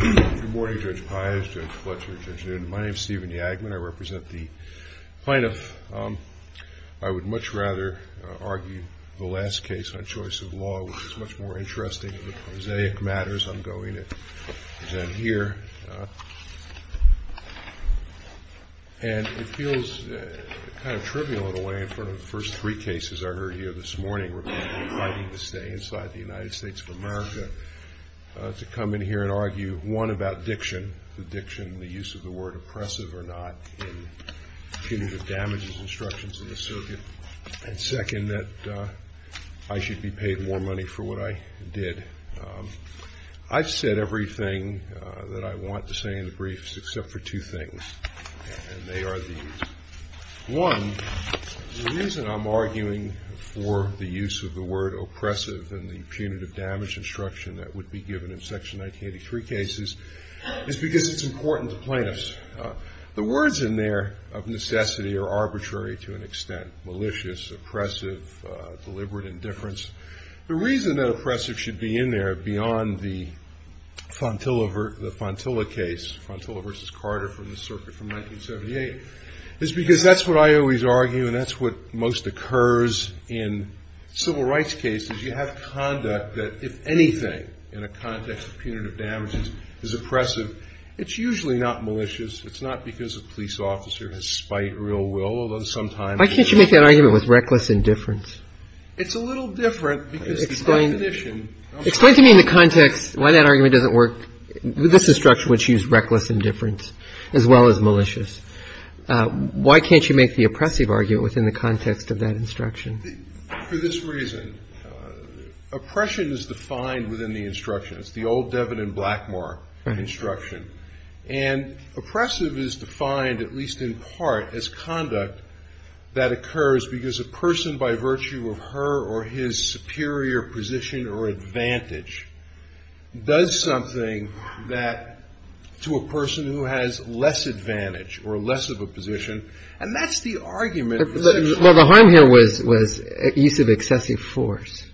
Good morning, Judge Pius, Judge Fletcher, Judge Newton. My name is Stephen Yagman. I represent the plaintiff. I would much rather argue the last case on choice of law, which is much more interesting in the prosaic matters I'm going to present here. And it feels kind of trivial in a way in front of the first three cases I heard here this morning regarding fighting to stay inside the United States of America, to come in here and argue, one, about diction, the diction, the use of the word oppressive or not in punitive damages instructions in the circuit, and second, that I should be paid more money for what I did. I've said everything that I want to say in the briefs except for two things, and they are the One, the reason I'm arguing for the use of the word oppressive and the punitive damage instruction that would be given in Section 1983 cases is because it's important to plaintiffs. The words in there of necessity are arbitrary to an extent, malicious, oppressive, deliberate indifference. The reason that oppressive should be in there beyond the Fontilla case, Fontilla v. Carter from the circuit from 1978, is because that's what I always argue and that's what most occurs in civil rights cases. You have conduct that, if anything, in a context of punitive damages, is oppressive. It's usually not malicious. It's not because a police officer has spied real will, although sometimes it is. Why can't you make that argument with reckless indifference? It's a little different because the condition. Explain to me in the context why that argument doesn't work. This instruction which used reckless indifference as well as malicious. Why can't you make the oppressive argument within the context of that instruction? For this reason, oppression is defined within the instructions, the old Devin and Blackmore instruction. And oppressive is defined at least in part as conduct that occurs because a person by virtue of her or his superior position or advantage does something to a person who has less advantage or less of a position. And that's the argument. Well, the harm here was use of excessive force.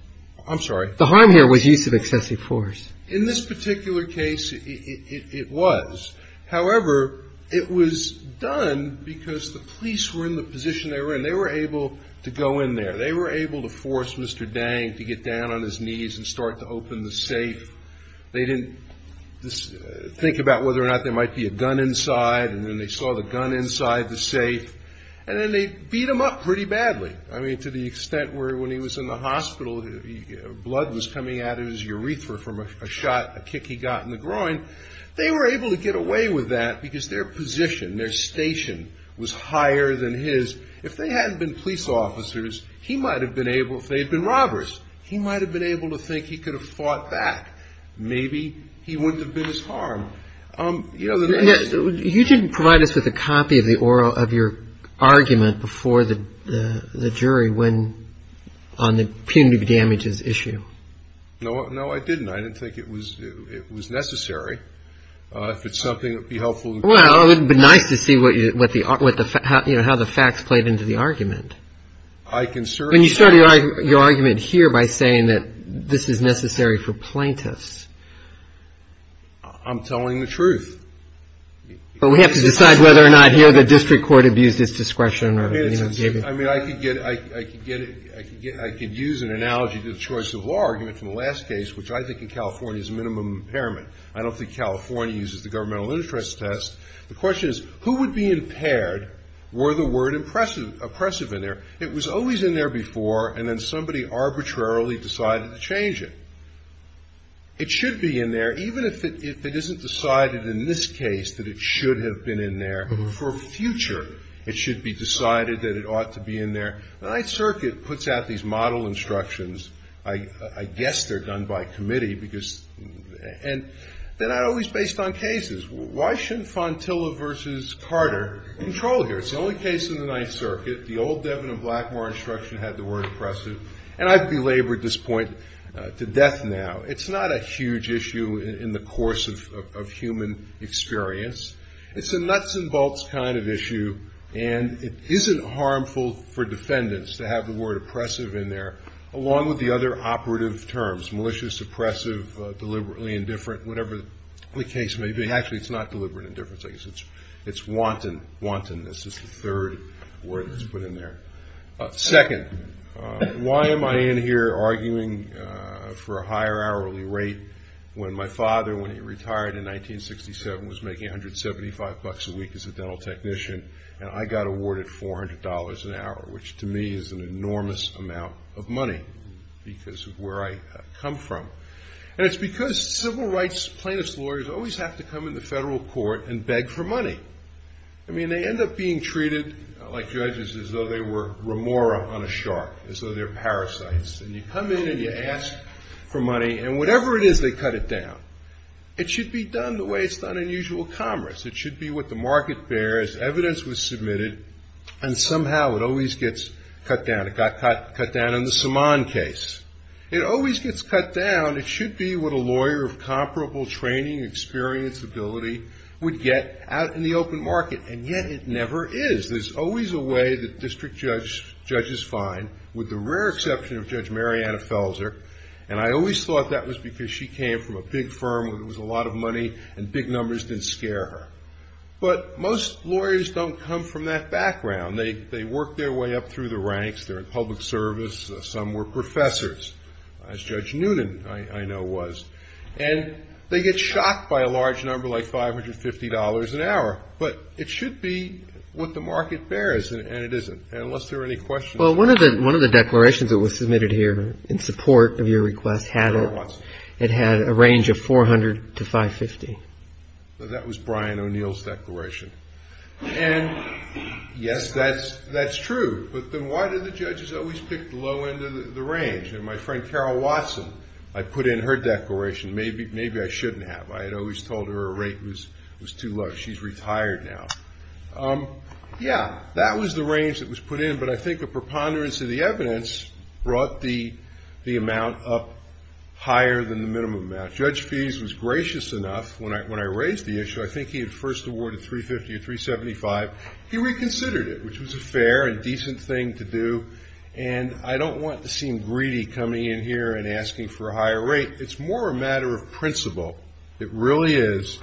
I'm sorry? The harm here was use of excessive force. In this particular case, it was. However, it was done because the police were in the position they were in. They were able to go in there. They were able to force Mr. Dang to get down on his knees and start to open the safe. They didn't think about whether or not there might be a gun inside. And then they saw the gun inside the safe. And then they beat him up pretty badly. I mean, to the extent where when he was in the hospital, blood was coming out of his urethra from a shot, a kick he got in the groin. They were able to get away with that because their position, their station was higher than his. If they hadn't been police officers, he might have been able, if they had been robbers, he might have been able to think he could have fought back. Maybe he wouldn't have been as harmed. You didn't provide us with a copy of your argument before the jury on the punitive damages issue. No, I didn't. I didn't think it was necessary. If it's something that would be helpful. Well, it would be nice to see what the, you know, how the facts played into the argument. I can certainly. I mean, you started your argument here by saying that this is necessary for plaintiffs. I'm telling the truth. But we have to decide whether or not here the district court abused its discretion. I mean, I could get, I could use an analogy to the choice of law argument from the last case, which I think in California is minimum impairment. I don't think California uses the governmental interest test. The question is, who would be impaired were the word oppressive in there? It was always in there before, and then somebody arbitrarily decided to change it. It should be in there, even if it isn't decided in this case that it should have been in there for future. It should be decided that it ought to be in there. The Ninth Circuit puts out these model instructions. I guess they're done by committee because, and they're not always based on cases. Why shouldn't Fontilla versus Carter control here? It's the only case in the Ninth Circuit. The old Devon and Blackmore instruction had the word oppressive. And I've belabored this point to death now. It's not a huge issue in the course of human experience. It's a nuts and bolts kind of issue, and it isn't harmful for defendants to have the word oppressive in there, along with the other operative terms, malicious, oppressive, deliberately indifferent, whatever the case may be. Actually, it's not deliberate indifference. I guess it's wanton. This is the third word that's put in there. Second, why am I in here arguing for a higher hourly rate when my father, when he retired in 1967, was making $175 a week as a dental technician, and I got awarded $400 an hour, which to me is an enormous amount of money because of where I come from. And it's because civil rights plaintiff's lawyers always have to come into federal court and beg for money. I mean, they end up being treated, like judges, as though they were Remora on a shark, as though they're parasites. And you come in and you ask for money, and whatever it is, they cut it down. It should be done the way it's done in usual commerce. It should be what the market bears. Evidence was submitted, and somehow it always gets cut down. It got cut down in the Saman case. It always gets cut down. It should be what a lawyer of comparable training, experience, ability would get out in the open market. And yet it never is. There's always a way that district judges find, with the rare exception of Judge Marianna Felser, and I always thought that was because she came from a big firm where there was a lot of money and big numbers didn't scare her. But most lawyers don't come from that background. They work their way up through the ranks. They're in public service. Some were professors, as Judge Noonan, I know, was. And they get shocked by a large number like $550 an hour. But it should be what the market bears, and it isn't, unless there are any questions. Well, one of the declarations that was submitted here in support of your request had a range of $400 to $550. That was Brian O'Neill's declaration. And, yes, that's true. But then why do the judges always pick the low end of the range? And my friend Carol Watson, I put in her declaration. Maybe I shouldn't have. I had always told her her rate was too low. She's retired now. Yeah, that was the range that was put in. But I think a preponderance of the evidence brought the amount up higher than the minimum amount. Judge Feese was gracious enough, when I raised the issue, I think he had first awarded $350 or $375. He reconsidered it, which was a fair and decent thing to do. And I don't want to seem greedy coming in here and asking for a higher rate. It's more a matter of principle, it really is,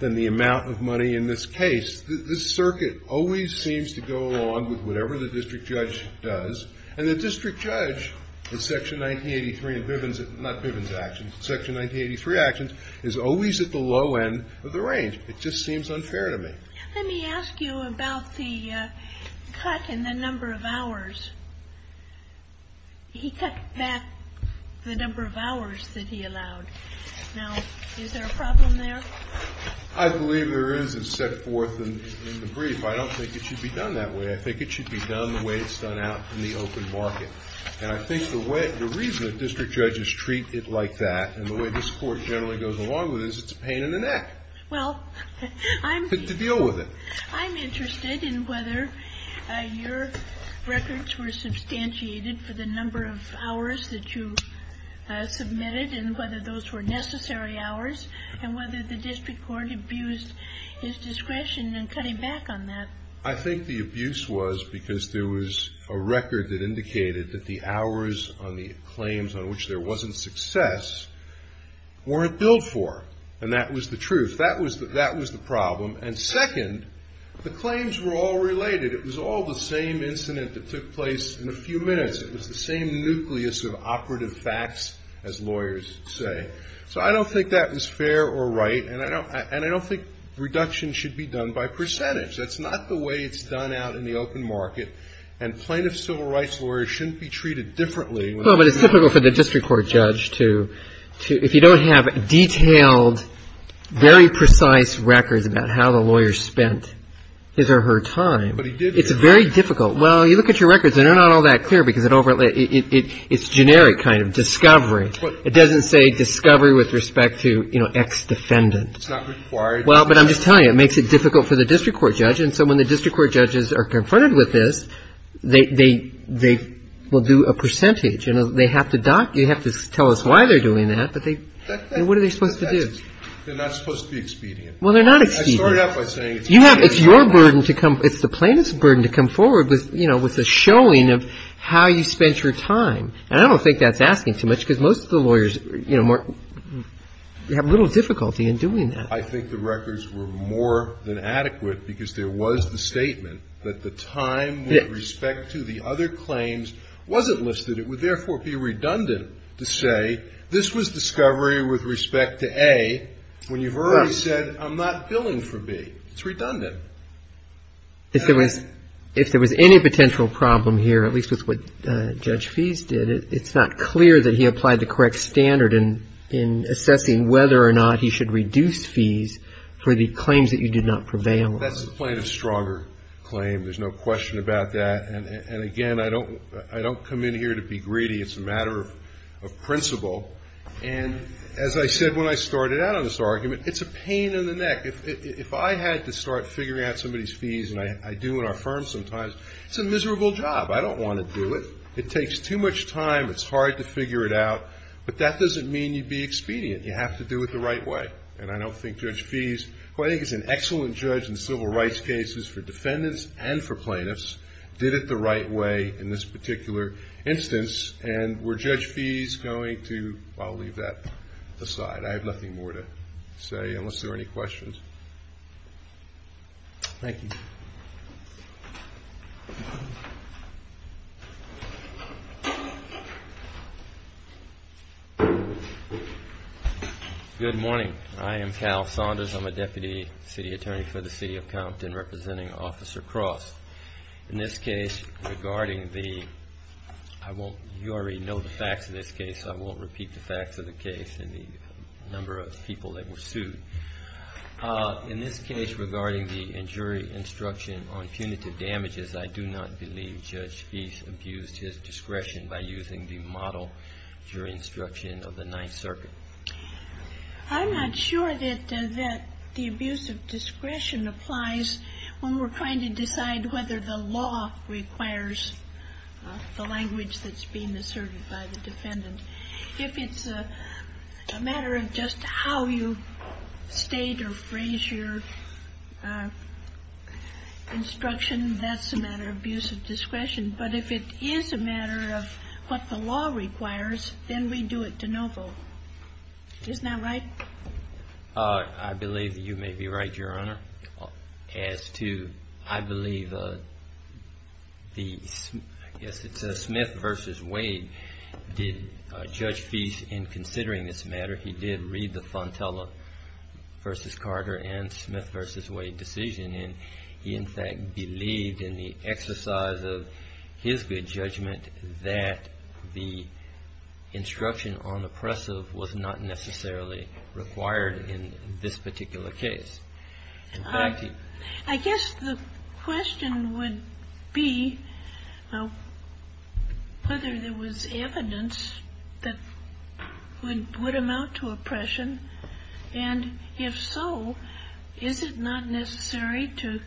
than the amount of money in this case. This circuit always seems to go along with whatever the district judge does. And the district judge in Section 1983 in Bivens, not Bivens actions, Section 1983 actions, is always at the low end of the range. It just seems unfair to me. Let me ask you about the cut in the number of hours. He cut back the number of hours that he allowed. Now, is there a problem there? I believe there is. It's set forth in the brief. I don't think it should be done that way. I think it should be done the way it's done out in the open market. And I think the reason that district judges treat it like that, and the way this court generally goes along with it, is it's a pain in the neck to deal with it. Well, I'm interested in whether your records were substantiated for the number of hours that you submitted, and whether those were necessary hours, and whether the district court abused his discretion in cutting back on that. I think the abuse was because there was a record that indicated that the hours on the claims on which there wasn't success weren't billed for. And that was the truth. That was the problem. And second, the claims were all related. It was all the same incident that took place in a few minutes. It was the same nucleus of operative facts as lawyers say. So I don't think that was fair or right. And I don't think reduction should be done by percentage. That's not the way it's done out in the open market. And plaintiff civil rights lawyers shouldn't be treated differently. Well, but it's difficult for the district court judge to, if you don't have detailed, very precise records about how the lawyer spent his or her time. But he did. It's very difficult. Well, you look at your records, and they're not all that clear because it's generic kind of discovery. It doesn't say discovery with respect to, you know, ex-defendant. It's not required. Well, but I'm just telling you, it makes it difficult for the district court judge. And so when the district court judges are confronted with this, they will do a percentage. You know, they have to tell us why they're doing that. But what are they supposed to do? Well, they're not expedient. It's your burden to come. It's the plaintiff's burden to come forward with, you know, with a showing of how you spent your time. And I don't think that's asking too much because most of the lawyers, you know, have little difficulty in doing that. I think the records were more than adequate because there was the statement that the time with respect to the other claims wasn't listed. It would, therefore, be redundant to say this was discovery with respect to A when you've already said I'm not billing for B. It's redundant. If there was any potential problem here, at least with what Judge Fees did, it's not clear that he applied the correct standard in assessing whether or not he should reduce fees for the claims that you did not prevail on. That's the plaintiff's stronger claim. There's no question about that. And, again, I don't come in here to be greedy. It's a matter of principle. And as I said when I started out on this argument, it's a pain in the neck. If I had to start figuring out somebody's fees, and I do in our firm sometimes, it's a miserable job. I don't want to do it. It takes too much time. It's hard to figure it out. But that doesn't mean you'd be expedient. You have to do it the right way. And I don't think Judge Fees, who I think is an excellent judge in civil rights cases for defendants and for plaintiffs, did it the right way in this particular instance. And were Judge Fees going to? I'll leave that aside. I have nothing more to say unless there are any questions. Thank you. Good morning. I am Cal Saunders. I'm a deputy city attorney for the city of Compton representing Officer Cross. In this case, regarding the ‑‑ you already know the facts of this case. I won't repeat the facts of the case and the number of people that were sued. In this case, regarding the jury instruction on punitive damages, I do not believe Judge Fees abused his discretion by using the model jury instruction of the Ninth Circuit. I'm not sure that the abuse of discretion applies when we're trying to decide whether the law requires the language that's being asserted by the defendant. If it's a matter of just how you state or phrase your instruction, that's a matter of abuse of discretion. But if it is a matter of what the law requires, then we do it to no vote. Isn't that right? I believe that you may be right, Your Honor. As to I believe the ‑‑ I guess it says Smith v. Wade. Did Judge Fees, in considering this matter, he did read the Fontella v. Carter and Smith v. Wade decision. And he, in fact, believed in the exercise of his good judgment that the instruction on oppressive was not necessarily required in this particular case. I guess the question would be whether there was evidence that would amount to oppression. And if so, is it not necessary to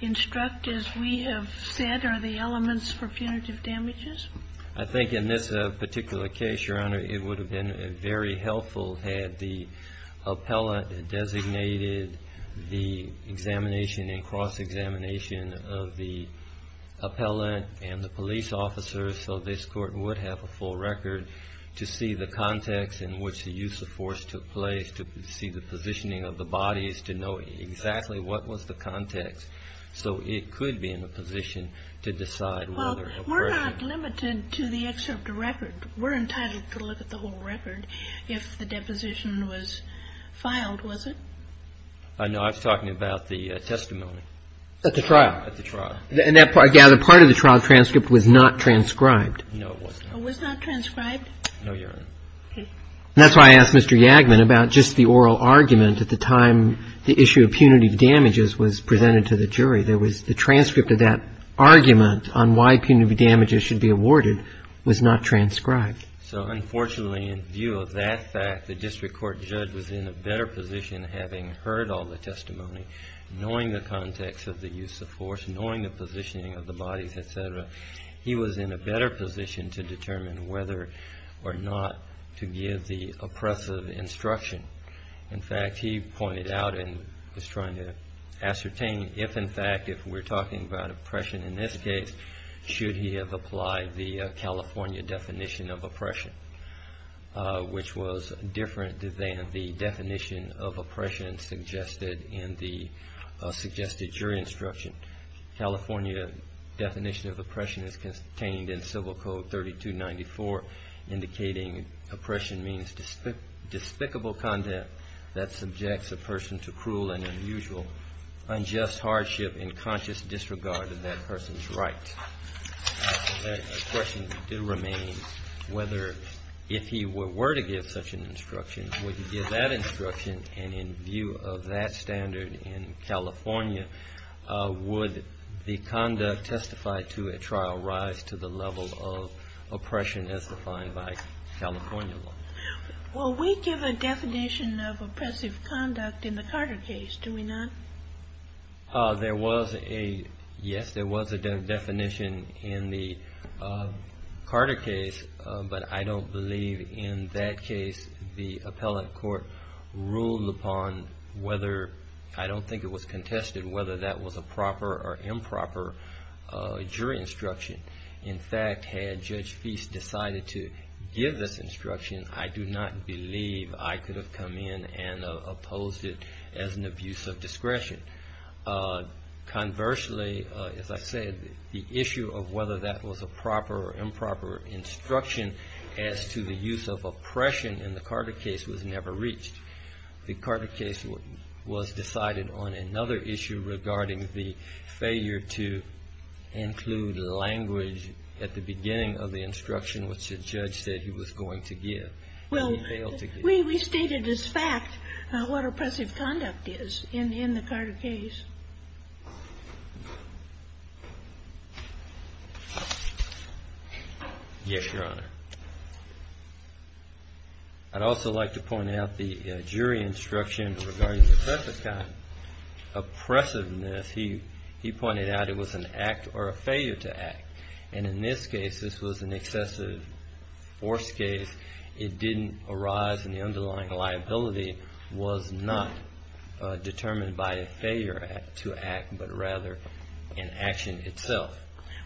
instruct, as we have said, are the elements for punitive damages? I think in this particular case, Your Honor, it would have been very helpful had the appellant designated the examination and cross-examination of the appellant and the police officers so this Court would have a full record to see the context in which the use of force took place, to see the positioning of the bodies, to know exactly what was the context. So it could be in a position to decide whether oppression. Well, we're not limited to the excerpt record. We're entitled to look at the whole record. If the deposition was filed, was it? No, I was talking about the testimony. At the trial. At the trial. Yeah, the part of the trial transcript was not transcribed. No, it was not. It was not transcribed? No, Your Honor. Okay. And that's why I asked Mr. Yagman about just the oral argument at the time the issue of punitive damages was presented to the jury. There was the transcript of that argument on why punitive damages should be awarded was not transcribed. So unfortunately, in view of that fact, the district court judge was in a better position, having heard all the testimony, knowing the context of the use of force, knowing the positioning of the bodies, et cetera. He was in a better position to determine whether or not to give the oppressive instruction. In fact, he pointed out and was trying to ascertain if, in fact, if we're talking about oppression in this case, should he have applied the California definition of oppression, which was different than the definition of oppression suggested in the suggested jury instruction. California definition of oppression is contained in Civil Code 3294, indicating oppression means despicable conduct that subjects a person to cruel and unusual, unjust hardship, and conscious disregard of that person's rights. The question remains whether if he were to give such an instruction, would he give that instruction, and in view of that standard in California, would the conduct testified to at trial rise to the level of oppression as defined by California law? Well, we give a definition of oppressive conduct in the Carter case, do we not? There was a, yes, there was a definition in the Carter case, but I don't believe in that case the appellate court ruled upon whether, I don't think it was contested whether that was a proper or improper jury instruction. In fact, had Judge Feist decided to give this instruction, I do not believe I could have come in and opposed it as an abuse of discretion. Conversely, as I said, the issue of whether that was a proper or improper instruction as to the use of oppression in the Carter case was never reached. The Carter case was decided on another issue regarding the failure to include language at the beginning of the instruction which the judge said he was going to give. Well, we stated as fact what oppressive conduct is in the Carter case. Yes, Your Honor. I'd also like to point out the jury instruction regarding the oppressive kind. Oppressiveness, he pointed out it was an act or a failure to act, and in this case this was an excessive force case. It didn't arise, and the underlying liability was not determined by a failure to act, but rather an action itself.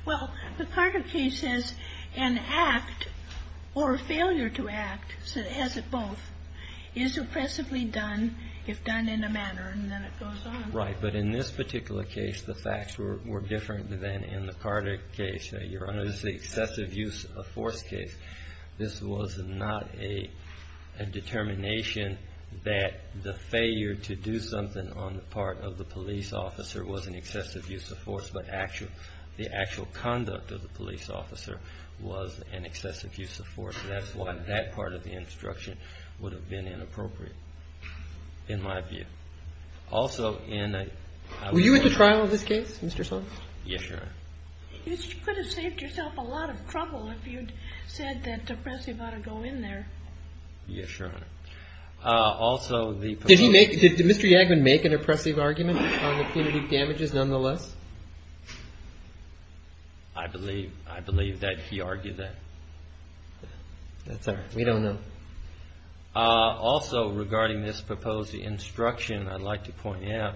Well, the Carter case says an act or a failure to act, so it has it both, is oppressively done if done in a manner, and then it goes on. Right, but in this particular case the facts were different than in the Carter case. Your Honor, this is an excessive use of force case. This was not a determination that the failure to do something on the part of the police officer was an excessive use of force, but the actual conduct of the police officer was an excessive use of force. That's why that part of the instruction would have been inappropriate in my view. Were you at the trial of this case, Mr. Sonks? Yes, Your Honor. You could have saved yourself a lot of trouble if you'd said that oppressive ought to go in there. Yes, Your Honor. Did Mr. Yagman make an oppressive argument on the punitive damages nonetheless? I believe that he argued that. That's all right. We don't know. Also regarding this proposed instruction, I'd like to point out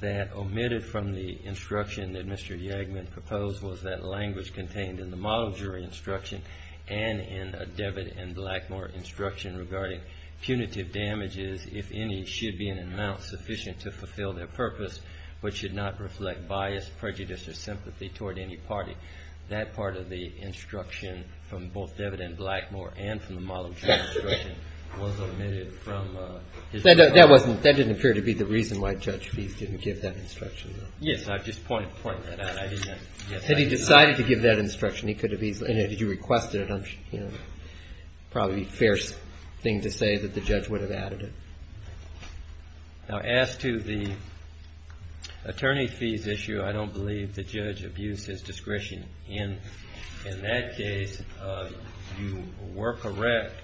that omitted from the instruction that Mr. Yagman proposed was that language contained in the model jury instruction and in a Devitt and Blackmore instruction regarding punitive damages, if any, should be an amount sufficient to fulfill their purpose, but should not reflect bias, prejudice, or sympathy toward any party. That part of the instruction from both Devitt and Blackmore and from the model jury instruction was omitted from his instruction. That didn't appear to be the reason why Judge Fies didn't give that instruction, though. Yes, I just pointed that out. Had he decided to give that instruction, he could have easily. And if you requested it, it would probably be a fair thing to say that the judge would have added it. Now, as to the Attorney Fies issue, I don't believe the judge abused his discretion. In that case, you were correct.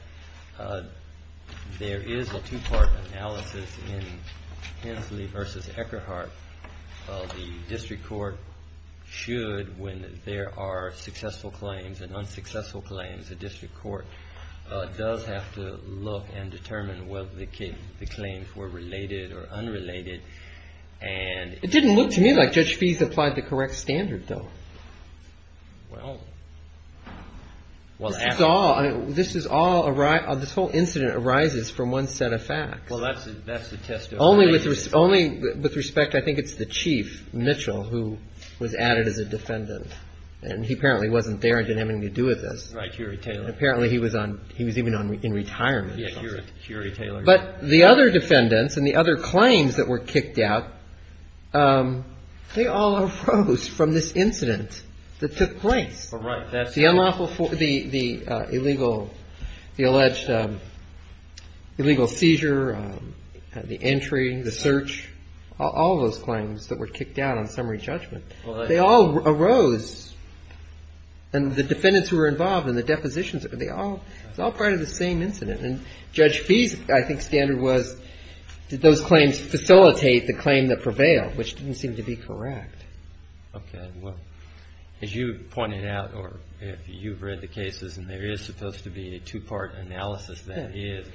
There is a two-part analysis in Hensley v. Eckerhart. The district court should, when there are successful claims and unsuccessful claims, the district court does have to look and determine whether the claims were related or unrelated. It didn't look to me like Judge Fies applied the correct standard, though. This whole incident arises from one set of facts. Only with respect, I think it's the chief, Mitchell, who was added as a defendant. And he apparently wasn't there and didn't have anything to do with this. Right, Hurey Taylor. Apparently he was on – he was even in retirement. Yeah, Hurey Taylor. But the other defendants and the other claims that were kicked out, they all arose from this incident that took place. Right. The illegal – the alleged illegal seizure, the entry, the search, all those claims that were kicked out on summary judgment, they all arose. And the defendants who were involved in the depositions, they all – it was all part of the same incident. And Judge Fies, I think, standard was did those claims facilitate the claim that prevailed, which didn't seem to be correct. Okay. Well, as you pointed out, or if you've read the cases and there is supposed to be a two-part analysis that is,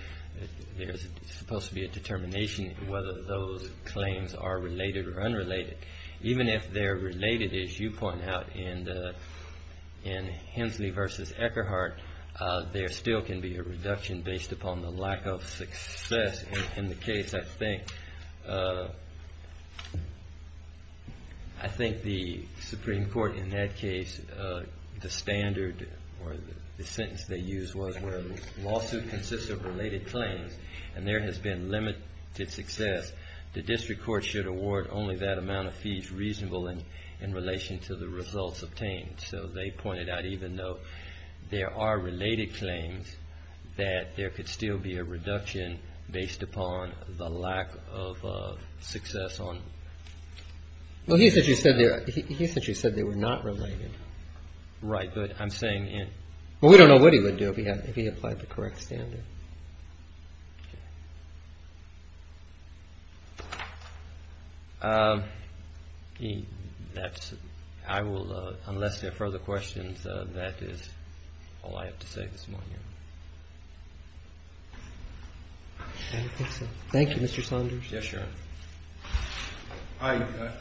there's supposed to be a determination whether those claims are related or unrelated. Even if they're related, as you point out, in Hensley v. Eckerhart, there still can be a reduction based upon the lack of success in the case. I think – I think the Supreme Court in that case, the standard or the sentence they used was where a lawsuit consists of related claims and there has been limited success, the district court should award only that amount of fees reasonable in relation to the results obtained. So they pointed out even though there are related claims, that there could still be a reduction based upon the lack of success on – Well, he essentially said they were not related. Right. But I'm saying – Well, we don't know what he would do if he applied the correct standard. Okay. That's – I will, unless there are further questions, that is all I have to say this morning. I think so. Thank you, Mr. Saunders. Yes, Your Honor.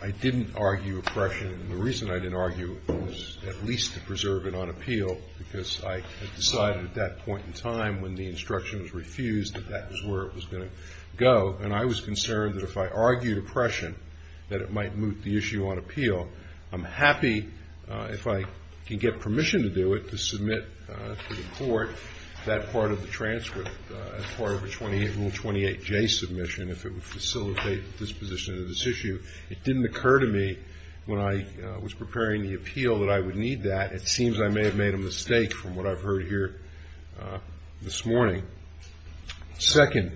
I didn't argue oppression, and the reason I didn't argue it was at least to preserve it on appeal, because I had decided at that point in time when the instruction was refused that that was where it was going to go. And I was concerned that if I argued oppression, that it might moot the issue on appeal. I'm happy, if I can get permission to do it, to submit to the court that part of the transcript, as part of a Rule 28J submission, if it would facilitate disposition of this issue. It didn't occur to me when I was preparing the appeal that I would need that. It seems I may have made a mistake from what I've heard here this morning. Second,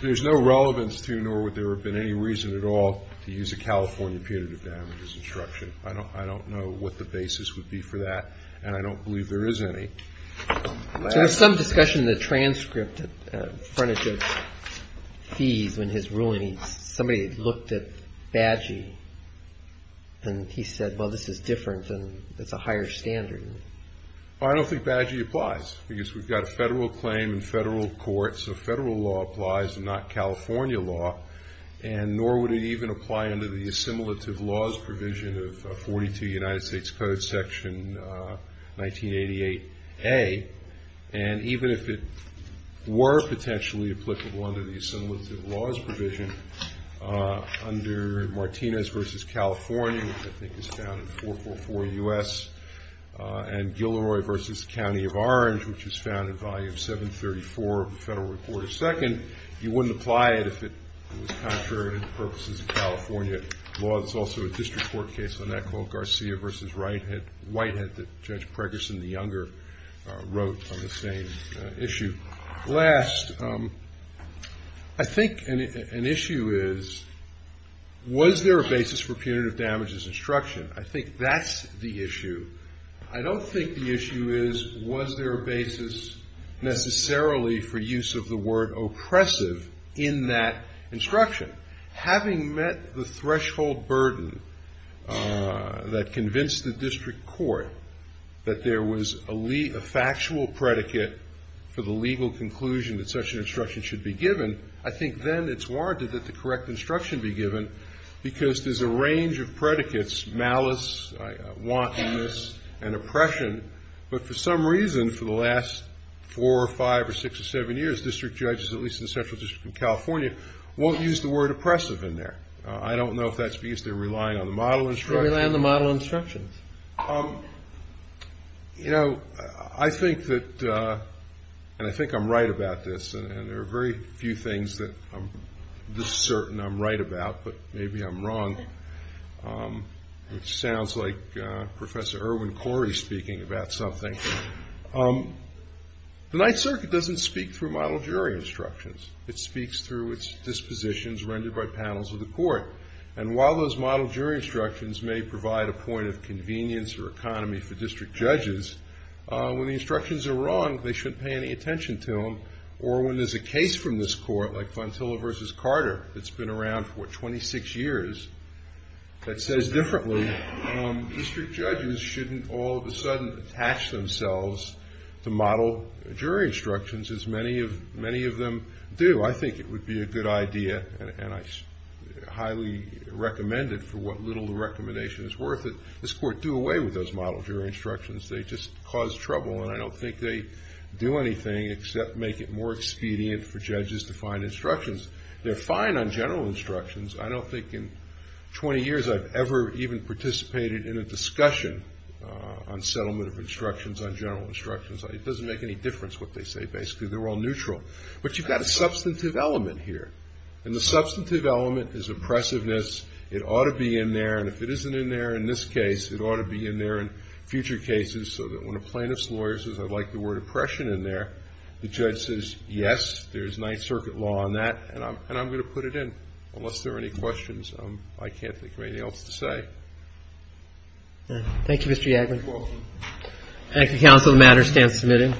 there's no relevance to nor would there have been any reason at all to use a California punitive damages instruction. I don't know what the basis would be for that, and I don't believe there is any. There was some discussion in the transcript in front of Judge Feese when his ruling, and somebody looked at Bagi, and he said, well, this is different, and it's a higher standard. I don't think Bagi applies, because we've got a federal claim in federal court, so federal law applies and not California law, and nor would it even apply under the assimilative laws provision of 42 United States Code Section 1988A, and even if it were potentially applicable under the assimilative laws provision under Martinez v. California, which I think is found in 444 U.S., and Gilroy v. County of Orange, which is found in volume 734 of the federal report. Second, you wouldn't apply it if it was contrary to purposes of California law. There's also a district court case on that called Garcia v. Whitehead that Judge Pregerson, the younger, wrote on the same issue. Last, I think an issue is, was there a basis for punitive damages instruction? I think that's the issue. I don't think the issue is, was there a basis necessarily for use of the word oppressive in that instruction. Having met the threshold burden that convinced the district court that there was a factual predicate for the legal conclusion that such an instruction should be given, I think then it's warranted that the correct instruction be given, because there's a range of predicates, malice, wantonness, and oppression. But for some reason, for the last four or five or six or seven years, district judges, at least in the Central District of California, won't use the word oppressive in there. I don't know if that's because they're relying on the model instruction. They rely on the model instructions. You know, I think that, and I think I'm right about this, and there are very few things that I'm certain I'm right about, but maybe I'm wrong. It sounds like Professor Irwin Corey is speaking about something. The Ninth Circuit doesn't speak through model jury instructions. It speaks through its dispositions rendered by panels of the court. And while those model jury instructions may provide a point of convenience or economy for district judges, when the instructions are wrong, they shouldn't pay any attention to them. Or when there's a case from this court, like Fontilla v. Carter, that's been around for, what, 26 years, that says differently, district judges shouldn't all of a sudden attach themselves to model jury instructions, as many of them do. I think it would be a good idea, and I highly recommend it for what little the recommendation is worth, that this court do away with those model jury instructions. They just cause trouble, and I don't think they do anything except make it more expedient for judges to find instructions. They're fine on general instructions. I don't think in 20 years I've ever even participated in a discussion on settlement of instructions on general instructions. It doesn't make any difference what they say, basically. They're all neutral. But you've got a substantive element here, and the substantive element is oppressiveness. It ought to be in there, and if it isn't in there in this case, it ought to be in there in future cases, so that when a plaintiff's lawyer says, I'd like the word oppression in there, the judge says, yes, there's Ninth Circuit law on that, and I'm going to put it in, unless there are any questions. I can't think of anything else to say. Thank you, Mr. Yagler. ACTING COUNSEL. The matter stands submitted.